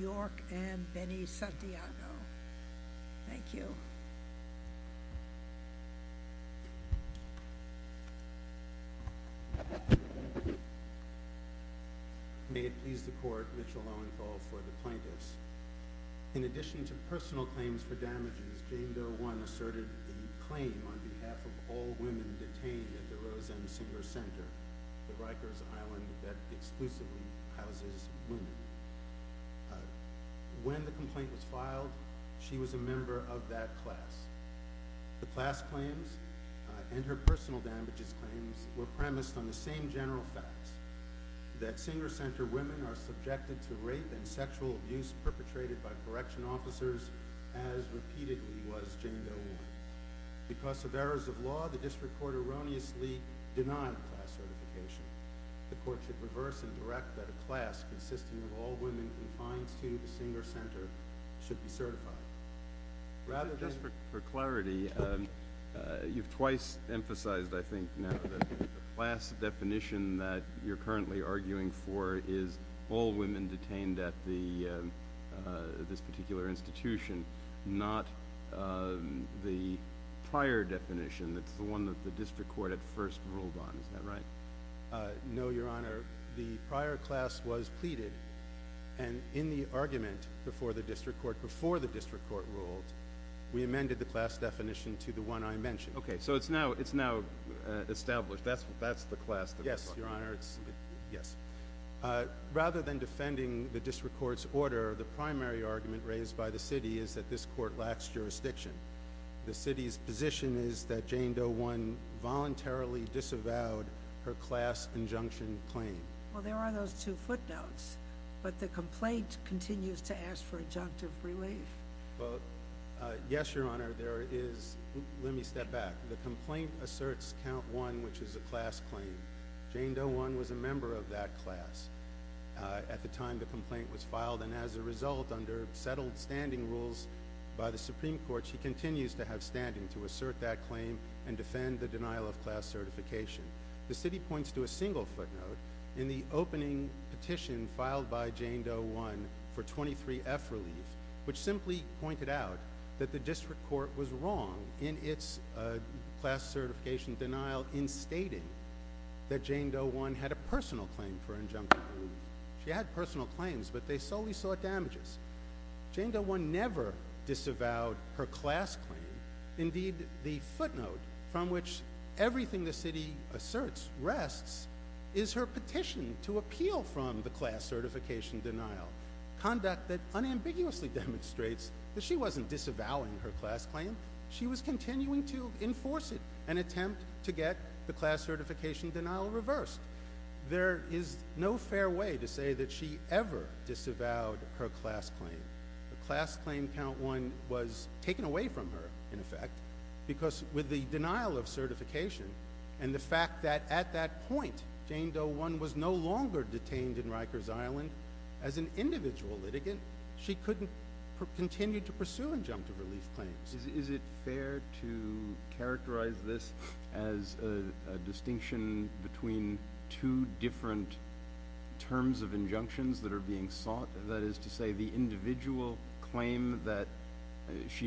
York, and Benny Santiago. In addition to personal claims for damages, Jane Doe 1 asserted the claim on behalf of all women detained at the Roseanne Singer Center, the Rikers Island that exclusively houses women. When the complaint was filed, she was a member of that class. The class claims, and her personal damages claims, were premised on the same general facts, that Singer Center women are subjected to rape and sexual abuse perpetrated by correction officers, as repeatedly was Jane Doe 1. Because of errors of law, the district court erroneously denied class certification. The court should reverse and direct that a class consisting of all women confined to the Singer Center should be certified. Just for clarity, you've twice emphasized, I think now, that the class definition that you're currently arguing for is all women detained at this particular institution, not the prior definition that's the one that the district court at first ruled on. Is that right? No, Your Honor. The prior class was pleaded, and in the argument before the district court ruled, we amended the class definition to the one I mentioned. Okay, so it's now established. That's the class definition. Yes, Your Honor. Rather than defending the district court's order, the primary argument raised by the city is that this court lacks jurisdiction. The city's position is that Jane Doe 1 voluntarily disavowed her class injunction claim. Well, there are those two footnotes, but the complaint continues to ask for injunctive relief. Yes, Your Honor. Let me step back. The complaint asserts Count 1, which is a class claim. Jane Doe 1 was a member of that class at the time the complaint was filed. As a result, under settled standing rules by the Supreme Court, she continues to have standing to assert that claim and defend the denial of class certification. The city points to a single footnote in the opening petition filed by Jane Doe 1 for 23F relief, which simply pointed out that the district court was wrong in its class certification denial in stating that Jane Doe 1 had a personal claim for injunction relief. She had personal claims, but they solely sought damages. Jane Doe 1 never disavowed her class claim. Indeed, the footnote from which everything the city asserts rests is her petition to appeal from the class certification denial. Conduct that unambiguously demonstrates that she wasn't disavowing her class claim. She was continuing to enforce it and attempt to get the class certification denial reversed. There is no fair way to say that she ever disavowed her class claim. The class claim Count 1 was taken away from her, in effect, because with the denial of certification and the fact that at that point Jane Doe 1 was no longer detained in Rikers Island as an individual litigant, she couldn't continue to pursue injunctive relief claims. Is it fair to characterize this as a distinction between two different terms of injunctions that are being sought? The individual claim that she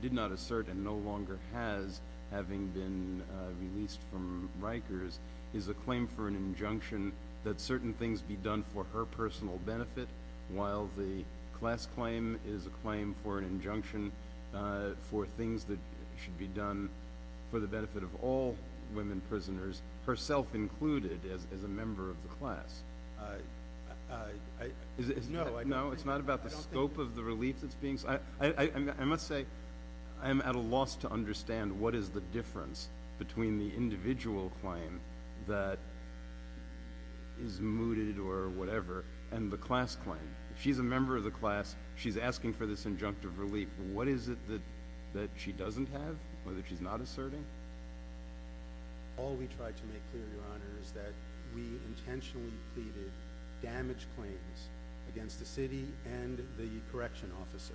did not assert and no longer has, having been released from Rikers, is a claim for an injunction that certain things be done for her personal benefit, while the class claim is a claim for an injunction for things that should be done for the benefit of all women prisoners, herself included as a member of the class. No, it's not about the scope of the relief that's being sought. I must say I am at a loss to understand what is the difference between the individual claim that is mooted or whatever and the class claim. She's a member of the class. She's asking for this injunctive relief. What is it that she doesn't have or that she's not asserting? All we tried to make clear, Your Honor, is that we intentionally pleaded damage claims against the city and the correction officer.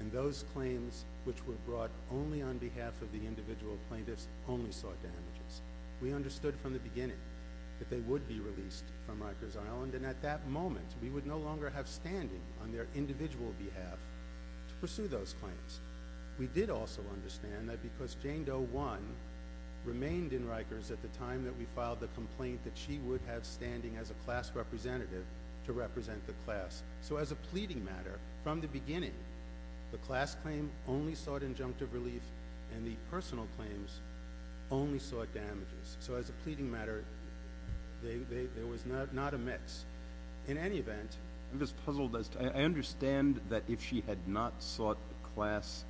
And those claims which were brought only on behalf of the individual plaintiffs only sought damages. We understood from the beginning that they would be released from Rikers Island and at that moment we would no longer have standing on their individual behalf to pursue those claims. We did also understand that because Jane Doe I remained in Rikers at the time that we filed the complaint that she would have standing as a class representative to represent the class. So as a pleading matter, from the beginning, the class claim only sought injunctive relief and the personal claims only sought damages. So as a pleading matter, there was not a mix. In any event, I understand that if she had not sought class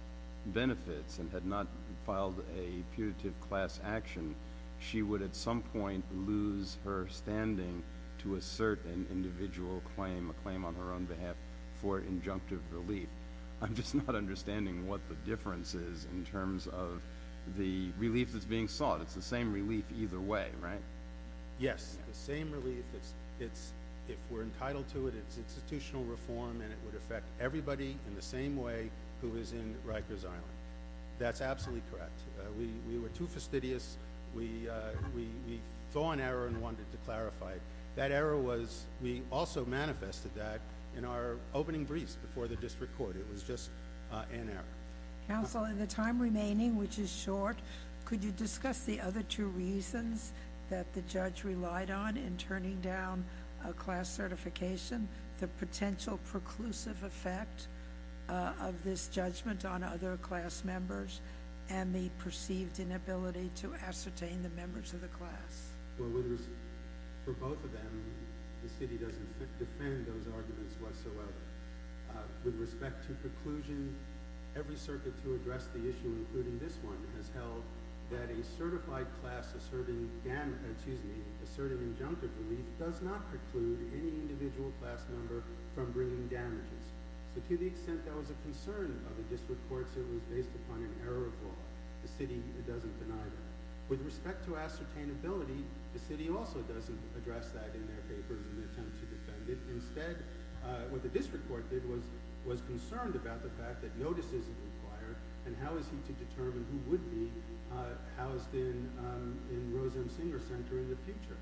benefits and had not filed a punitive class action, she would at some point lose her standing to assert an individual claim, a claim on her own behalf for injunctive relief. I'm just not understanding what the difference is in terms of the relief that's being sought. It's the same relief either way, right? Yes, the same relief. If we're entitled to it, it's institutional reform and it would affect everybody in the same way who is in Rikers Island. That's absolutely correct. We were too fastidious. We saw an error and wanted to clarify it. That error was, we also manifested that in our opening briefs before the district court. It was just an error. Counsel, in the time remaining, which is short, could you discuss the other two reasons that the judge relied on in turning down a class certification? The potential preclusive effect of this judgment on other class members and the perceived inability to ascertain the members of the class. For both of them, the city doesn't defend those arguments whatsoever. With respect to preclusion, every circuit to address the issue, including this one, has held that a certified class asserting injunctive relief does not preclude any individual class member from bringing damages. To the extent there was a concern by the district courts it was based upon an error of law. The city doesn't deny that. With respect to ascertainability, the city also doesn't address that in their papers in an attempt to defend it. Instead, what the district court did was concerned about the fact that no decision is required and how is he to determine who would be housed in Rose M. Singer Center in the future.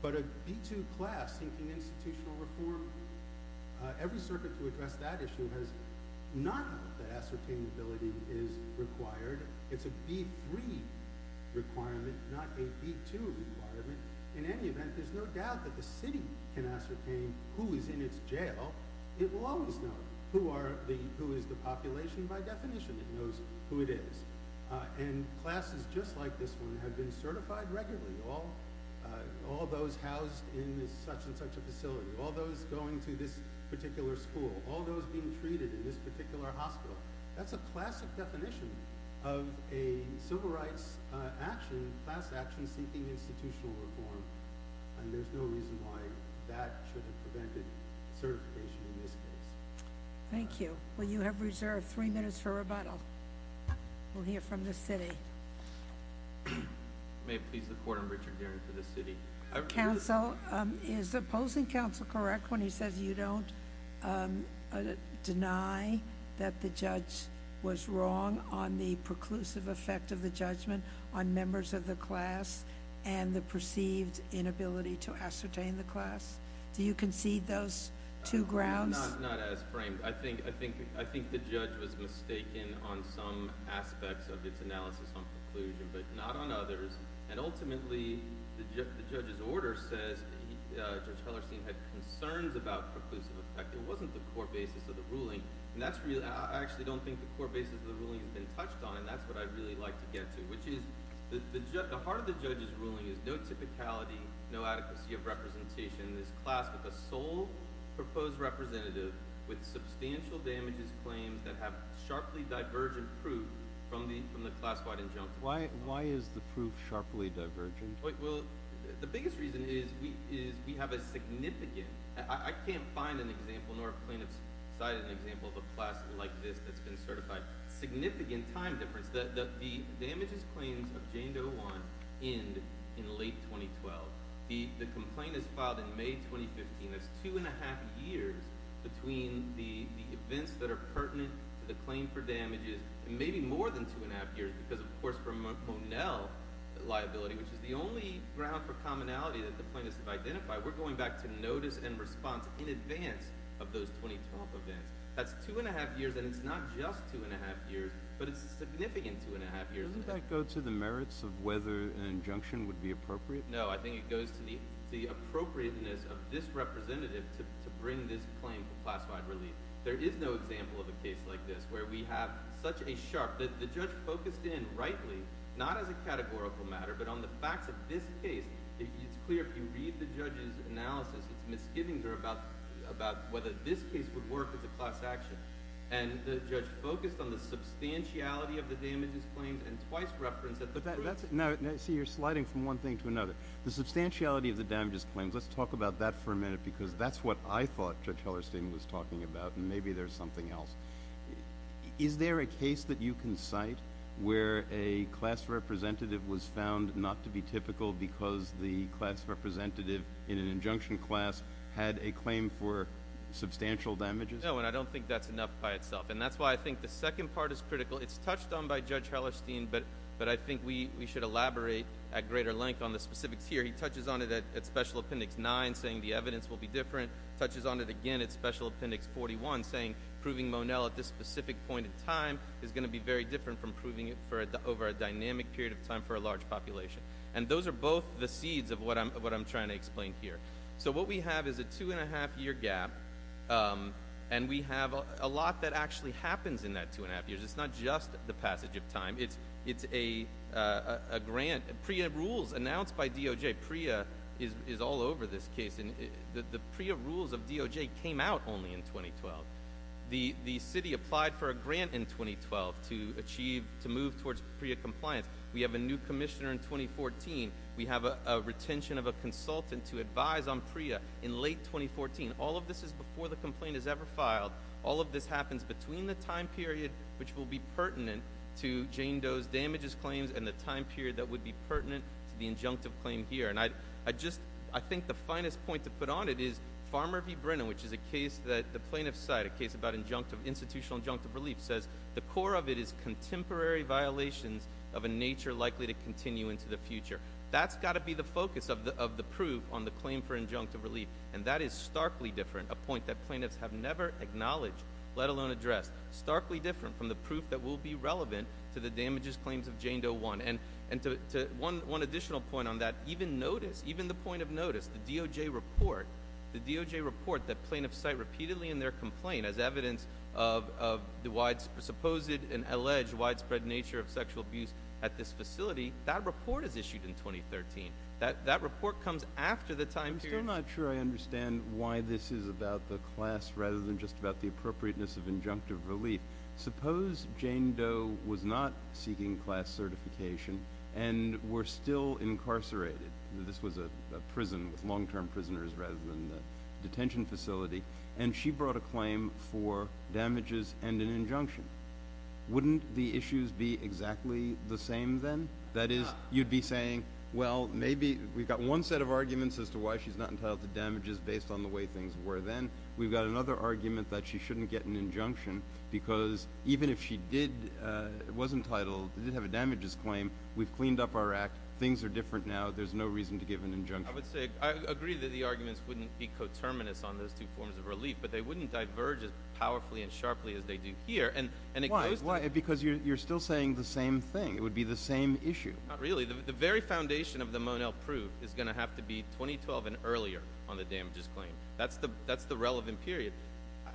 But a B2 class seeking institutional reform, every circuit to address that issue has not held that ascertainability is required. It's a B3 requirement, not a B2 requirement. In any event, there's no doubt that the city can ascertain who is in its jail. It will always know who is the population by definition. It knows who it is. Classes just like this one have been certified regularly. All those housed in such and such a facility. All those going to this particular school. All those being treated in this particular hospital. That's a classic definition of a civil rights action, class action seeking institutional reform. And there's no reason why that should have prevented certification in this case. Thank you. Well, you have reserved three minutes for rebuttal. We'll hear from the city. May it please the court, I'm Richard Guerin for the city. Counsel, is opposing counsel correct when he says you don't deny that the judge was wrong on the preclusive effect of the judgment on members of the class and the perceived inability to ascertain the class? Do you concede those two grounds? Not as framed. I think the judge was mistaken on some aspects of its analysis on conclusion, but not on others. And ultimately, the judge's order says Judge Hellerstein had concerns about preclusive effect. It wasn't the core basis of the ruling. I actually don't think the core basis of the ruling has been touched on, and that's what I'd really like to get to, which is the heart of the judge's ruling is no typicality, no adequacy of representation. This class with a sole proposed representative with substantial damages claims that have sharply divergent proof from the classified injunction. Why is the proof sharply divergent? Well, the biggest reason is we have a significant, I can't find an example, nor have plaintiffs cited an example of a class like this that's been certified, significant time difference. The damages claims of Jane Dewan end in late 2012. The complaint is filed in May 2015. That's two and a half years between the events that are pertinent to the claim for damages, and maybe more than two and a half years because, of course, from a Monell liability, which is the only ground for commonality that the plaintiffs have identified, we're going back to notice and response in advance of those 2012 events. That's two and a half years, and it's not just two and a half years, but it's a significant two and a half years. Doesn't that go to the merits of whether an injunction would be appropriate? No, I think it goes to the appropriateness of this representative to bring this claim for classified relief. There is no example of a case like this where we have such a sharp, the judge focused in rightly, not as a categorical matter, but on the facts of this case. It's clear if you read the judge's analysis, it's misgivings are about whether this case would work as a class action, and the judge focused on the substantiality of the damages claims and twice referenced that the proof. Now, see, you're sliding from one thing to another. The substantiality of the damages claims, let's talk about that for a minute because that's what I thought Judge Hellerstein was talking about and maybe there's something else. Is there a case that you can cite where a class representative was found not to be typical because the class representative in an injunction class had a claim for substantial damages? No, and I don't think that's enough by itself, and that's why I think the second part is critical. It's touched on by Judge Hellerstein, but I think we should elaborate at greater length on the specifics here. He touches on it at Special Appendix 9 saying the evidence will be different, touches on it again at Special Appendix 41 saying proving Monell at this specific point in time is going to be very different from proving it over a dynamic period of time for a large population, and those are both the seeds of what I'm trying to explain here. So what we have is a two-and-a-half-year gap, and we have a lot that actually happens in that two-and-a-half years. It's not just the passage of time. It's a grant, PREA rules announced by DOJ. PREA is all over this case, and the PREA rules of DOJ came out only in 2012. The city applied for a grant in 2012 to move towards PREA compliance. We have a new commissioner in 2014. We have a retention of a consultant to advise on PREA in late 2014. All of this is before the complaint is ever filed. All of this happens between the time period which will be pertinent to Jane Doe's damages claims and the time period that would be pertinent to the injunctive claim here. I think the finest point to put on it is Farmer v. Brennan, which is a case that the plaintiffs cite, a case about institutional injunctive relief, says the core of it is contemporary violations of a nature likely to continue into the future. That's got to be the focus of the proof on the claim for injunctive relief, and that is starkly different, a point that plaintiffs have never acknowledged, let alone addressed, starkly different from the proof that will be relevant to the damages claims of Jane Doe 1. One additional point on that, even the point of notice, the DOJ report that plaintiffs cite repeatedly in their complaint as evidence of the supposed and alleged widespread nature of sexual abuse at this facility, that report is issued in 2013. That report comes after the time period. I'm still not sure I understand why this is about the class rather than just about the appropriateness of injunctive relief. Suppose Jane Doe was not seeking class certification and were still incarcerated. This was a prison with long-term prisoners rather than a detention facility, and she brought a claim for damages and an injunction. Wouldn't the issues be exactly the same then? That is, you'd be saying, well, maybe we've got one set of arguments as to why she's not entitled to damages based on the way things were then. We've got another argument that she shouldn't get an injunction because even if she was entitled, did have a damages claim, we've cleaned up our act, things are different now, there's no reason to give an injunction. I agree that the arguments wouldn't be coterminous on those two forms of relief, but they wouldn't diverge as powerfully and sharply as they do here. Why? Because you're still saying the same thing. It would be the same issue. Not really. The very foundation of the Monel proof is going to have to be 2012 and earlier on the damages claim. That's the relevant period.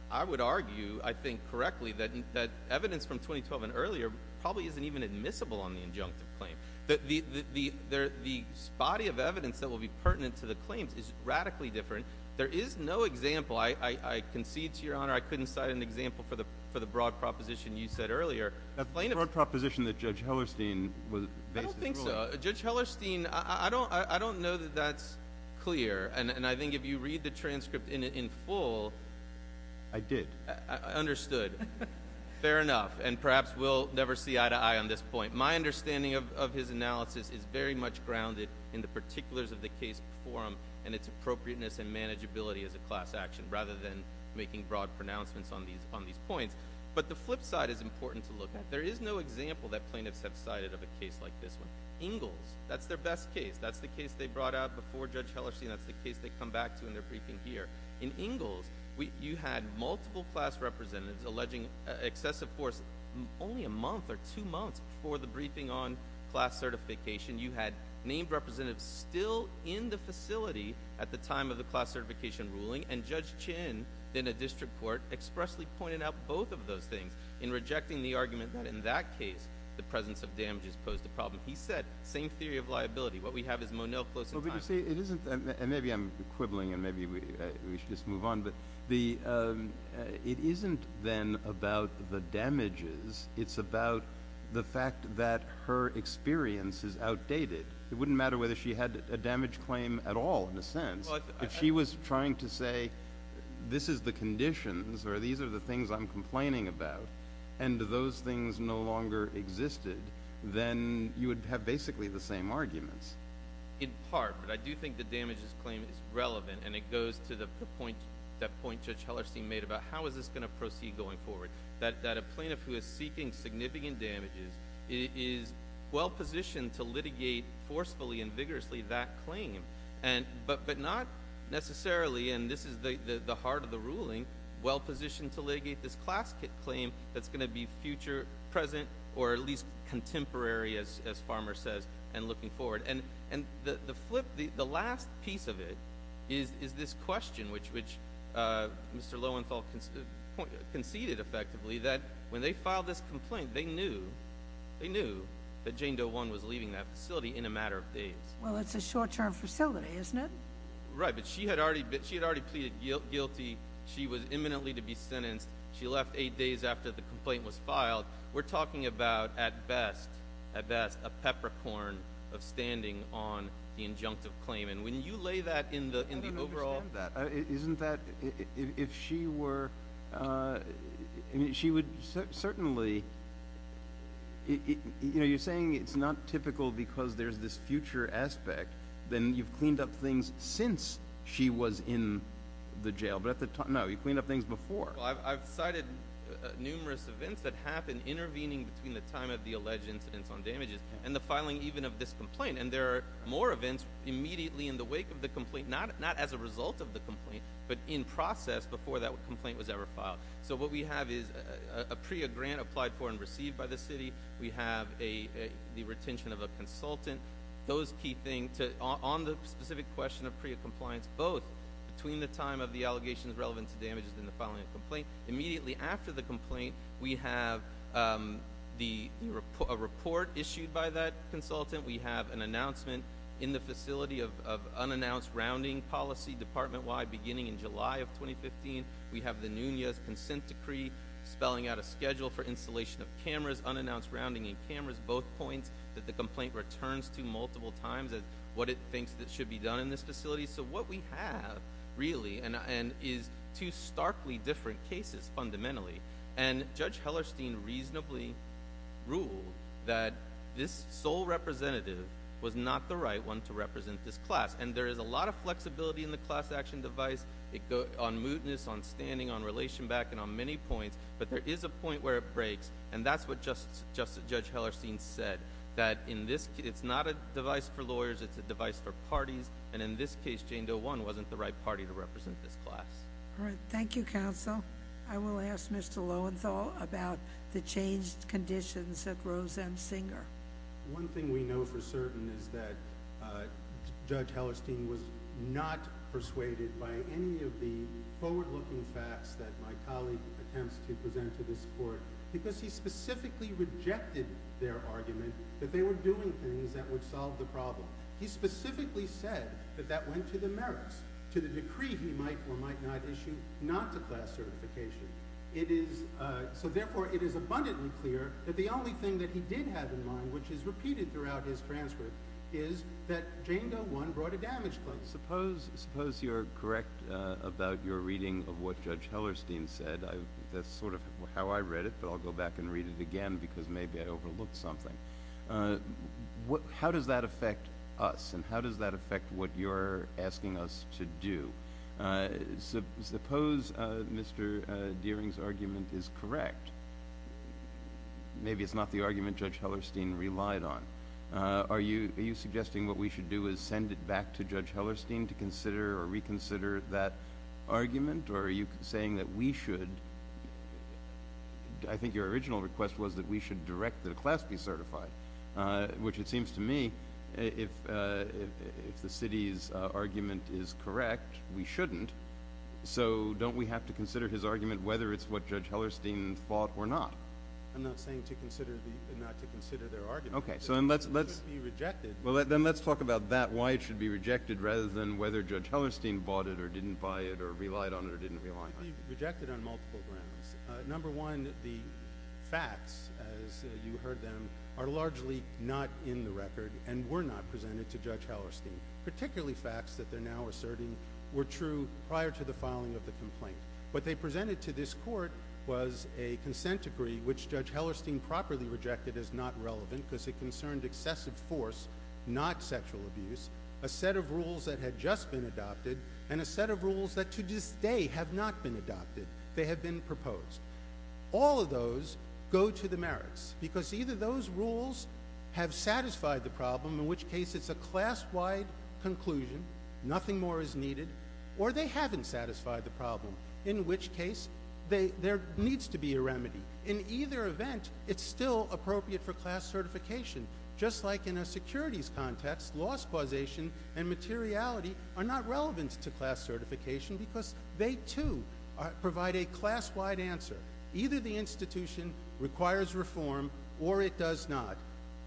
I would argue, I think correctly, that evidence from 2012 and earlier probably isn't even admissible on the injunctive claim. The body of evidence that will be pertinent to the claims is radically different. There is no example. I concede to Your Honor, I couldn't cite an example for the broad proposition you said earlier. That's the broad proposition that Judge Hellerstein based his ruling on. I don't think so. Judge Hellerstein, I don't know that that's clear, and I think if you read the transcript in full... I did. Understood. Fair enough. And perhaps we'll never see eye-to-eye on this point. My understanding of his analysis is very much grounded in the particulars of the case before him and its appropriateness and manageability as a class action rather than making broad pronouncements on these points. But the flip side is important to look at. There is no example that plaintiffs have cited of a case like this one. Ingalls, that's their best case. That's the case they brought out before Judge Hellerstein. That's the case they come back to in their briefing here. In Ingalls, you had multiple class representatives alleging excessive force only a month or two months before the briefing on class certification. You had named representatives still in the facility at the time of the class certification ruling, and Judge Chin, then a district court, expressly pointed out both of those things in rejecting the argument that in that case the presence of damages posed a problem. He said, same theory of liability. What we have is Monell close in time. Maybe I'm quibbling, and maybe we should just move on, but it isn't then about the damages. It's about the fact that her experience is outdated. It wouldn't matter whether she had a damage claim at all, in a sense. If she was trying to say, this is the conditions, or these are the things I'm complaining about, and those things no longer existed, then you would have basically the same arguments. In part, but I do think the damages claim is relevant, and it goes to that point Judge Hellerstein made about how is this going to proceed going forward, that a plaintiff who is seeking significant damages is well positioned to litigate forcefully and vigorously that claim, but not necessarily, and this is the heart of the ruling, well positioned to litigate this class claim that's going to be future, present, or at least contemporary, as Farmer says, and looking forward. The last piece of it is this question, which Mr. Lowenthal conceded effectively, that when they filed this complaint, they knew that Jane Doe One was leaving that facility in a matter of days. Well, it's a short-term facility, isn't it? Right, but she had already pleaded guilty. She was imminently to be sentenced. She left eight days after the complaint was filed. We're talking about, at best, a peppercorn of standing on the injunctive claim, and when you lay that in the overall— I don't even understand that. Isn't that if she were—she would certainly— you're saying it's not typical because there's this future aspect, then you've cleaned up things since she was in the jail. No, you cleaned up things before. I've cited numerous events that happened intervening between the time of the alleged incidents on damages and the filing even of this complaint, and there are more events immediately in the wake of the complaint, not as a result of the complaint, but in process before that complaint was ever filed. So what we have is a PREA grant applied for and received by the city. We have the retention of a consultant. Those key things on the specific question of PREA compliance, both between the time of the allegations relevant to damages and the filing of the complaint. Immediately after the complaint, we have a report issued by that consultant. We have an announcement in the facility of unannounced rounding policy, department-wide, beginning in July of 2015. We have the NUNA's consent decree spelling out a schedule for installation of cameras, unannounced rounding in cameras, both points that the complaint returns to multiple times as what it thinks should be done in this facility. So what we have really is two starkly different cases fundamentally, and Judge Hellerstein reasonably ruled that this sole representative was not the right one to represent this class, and there is a lot of flexibility in the class action device on mootness, on standing, on relation back, and on many points, but there is a point where it breaks, and that's what Judge Hellerstein said, and in this case, Jane Doe One wasn't the right party to represent this class. All right. Thank you, Counsel. I will ask Mr. Lowenthal about the changed conditions at Rose M. Singer. One thing we know for certain is that Judge Hellerstein was not persuaded by any of the forward-looking facts that my colleague attempts to present to this court because he specifically rejected their argument that they were doing things that would solve the problem. He specifically said that that went to the merits, to the decree he might or might not issue not to class certification. So therefore, it is abundantly clear that the only thing that he did have in mind, which is repeated throughout his transcript, is that Jane Doe One brought a damage claim. Suppose you're correct about your reading of what Judge Hellerstein said. That's sort of how I read it, but I'll go back and read it again because maybe I overlooked something. How does that affect us, and how does that affect what you're asking us to do? Suppose Mr. Deering's argument is correct. Maybe it's not the argument Judge Hellerstein relied on. Are you suggesting what we should do is send it back to Judge Hellerstein to consider or reconsider that argument, or are you saying that we should— Which it seems to me, if the city's argument is correct, we shouldn't. So don't we have to consider his argument, whether it's what Judge Hellerstein thought or not? I'm not saying not to consider their argument. Then let's talk about that, why it should be rejected, rather than whether Judge Hellerstein bought it or didn't buy it or relied on it or didn't rely on it. It could be rejected on multiple grounds. Number one, the facts, as you heard them, are largely not in the record and were not presented to Judge Hellerstein, particularly facts that they're now asserting were true prior to the filing of the complaint. What they presented to this court was a consent decree, which Judge Hellerstein properly rejected as not relevant because it concerned excessive force, not sexual abuse, a set of rules that had just been adopted, and a set of rules that to this day have not been adopted. They have been proposed. All of those go to the merits, because either those rules have satisfied the problem, in which case it's a class-wide conclusion, nothing more is needed, or they haven't satisfied the problem, in which case there needs to be a remedy. In either event, it's still appropriate for class certification, just like in a securities context, loss causation and materiality are not relevant to class certification because they, too, provide a class-wide answer. Either the institution requires reform or it does not.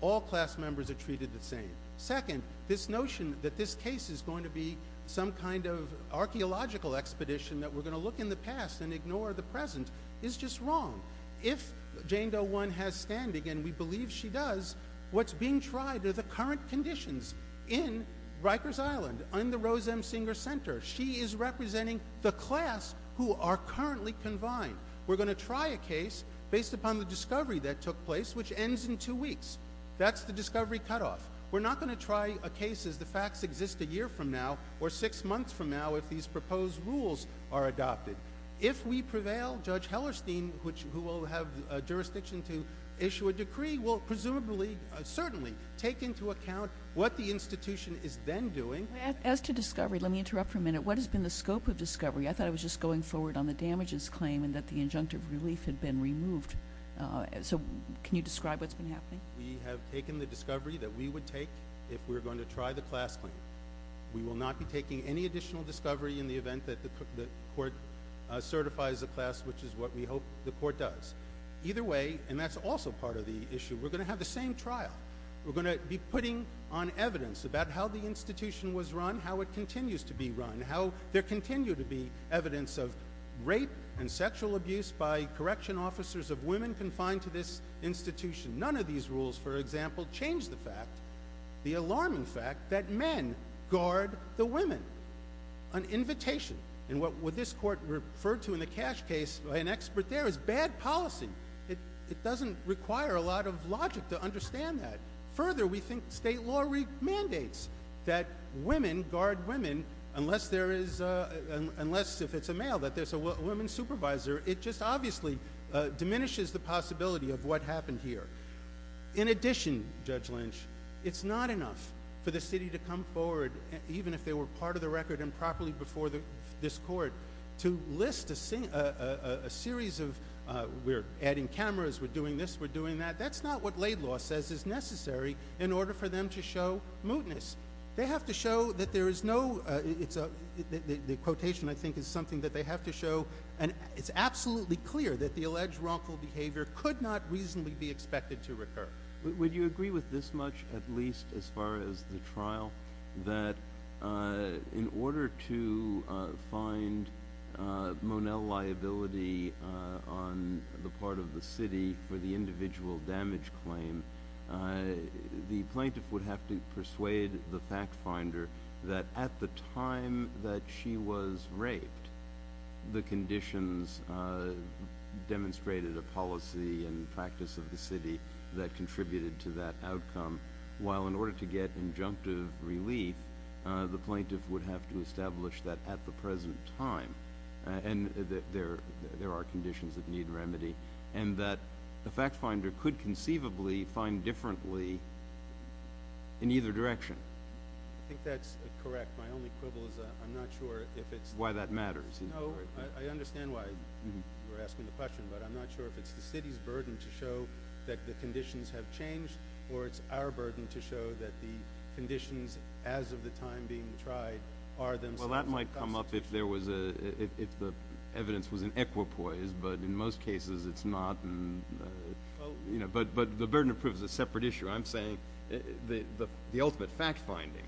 All class members are treated the same. Second, this notion that this case is going to be some kind of archaeological expedition that we're going to look in the past and ignore the present is just wrong. If Jane Doe One has standing, and we believe she does, what's being tried are the current conditions in Rikers Island, in the Rose M. Singer Center. She is representing the class who are currently confined. We're going to try a case based upon the discovery that took place, which ends in two weeks. That's the discovery cutoff. We're not going to try a case as the facts exist a year from now or six months from now if these proposed rules are adopted. If we prevail, Judge Hellerstein, who will have jurisdiction to issue a decree, will presumably, certainly, take into account what the institution is then doing. As to discovery, let me interrupt for a minute. What has been the scope of discovery? I thought it was just going forward on the damages claim and that the injunctive relief had been removed. So can you describe what's been happening? We have taken the discovery that we would take if we were going to try the class claim. We will not be taking any additional discovery in the event that the court certifies a class, which is what we hope the court does. Either way, and that's also part of the issue, we're going to have the same trial. We're going to be putting on evidence about how the institution was run, how it continues to be run, how there continues to be evidence of rape and sexual abuse by correction officers of women confined to this institution. None of these rules, for example, change the fact, the alarming fact, that men guard the women. An invitation, and what this court referred to in the Cash case, an expert there, is bad policy. It doesn't require a lot of logic to understand that. Further, we think state law remandates that women guard women, unless if it's a male, that there's a woman supervisor. It just obviously diminishes the possibility of what happened here. In addition, Judge Lynch, it's not enough for the city to come forward, even if they were part of the record and properly before this court, to list a series of, we're adding cameras, we're doing this, we're doing that. That's not what laid law says is necessary in order for them to show mootness. They have to show that there is no, the quotation, I think, is something that they have to show, and it's absolutely clear that the alleged wrongful behavior could not reasonably be expected to recur. Would you agree with this much, at least as far as the trial, that in order to find Monell liability on the part of the city for the individual damage claim, the plaintiff would have to persuade the fact finder that at the time that she was raped, the conditions demonstrated a policy and practice of the city that contributed to that outcome, while in order to get injunctive relief, the plaintiff would have to establish that at the present time, and that there are conditions that need remedy, and that the fact finder could conceivably find differently in either direction? I think that's correct. My only quibble is I'm not sure if it's... Why that matters. No, I understand why you're asking the question, but I'm not sure if it's the city's burden to show that the conditions have changed or it's our burden to show that the conditions as of the time being tried are themselves... Well, that might come up if the evidence was in equipoise, but in most cases it's not. But the burden of proof is a separate issue. I'm saying the ultimate fact finding,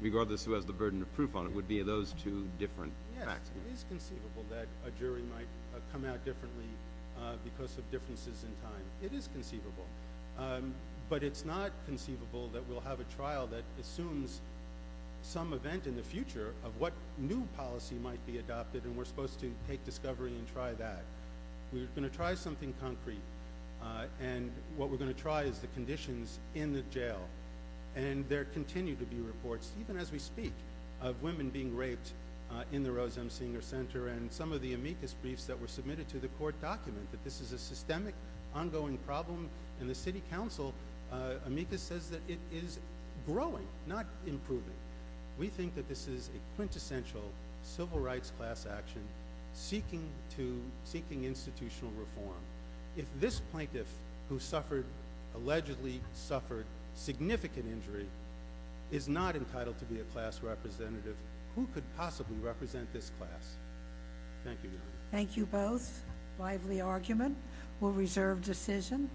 regardless of who has the burden of proof on it, would be those two different facts. Yes, it is conceivable that a jury might come out differently because of differences in time. It is conceivable. But it's not conceivable that we'll have a trial that assumes some event in the future of what new policy might be adopted, and we're supposed to take discovery and try that. We're going to try something concrete, and what we're going to try is the conditions in the jail. And there continue to be reports, even as we speak, of women being raped in the Rose M. Singer Center, and some of the amicus briefs that were submitted to the court document that this is a systemic, ongoing problem, and the city council amicus says that it is growing, not improving. We think that this is a quintessential civil rights class action seeking institutional reform. If this plaintiff, who allegedly suffered significant injury, is not entitled to be a class representative, who could possibly represent this class? Thank you. Thank you both. Lively argument. We'll reserve decision.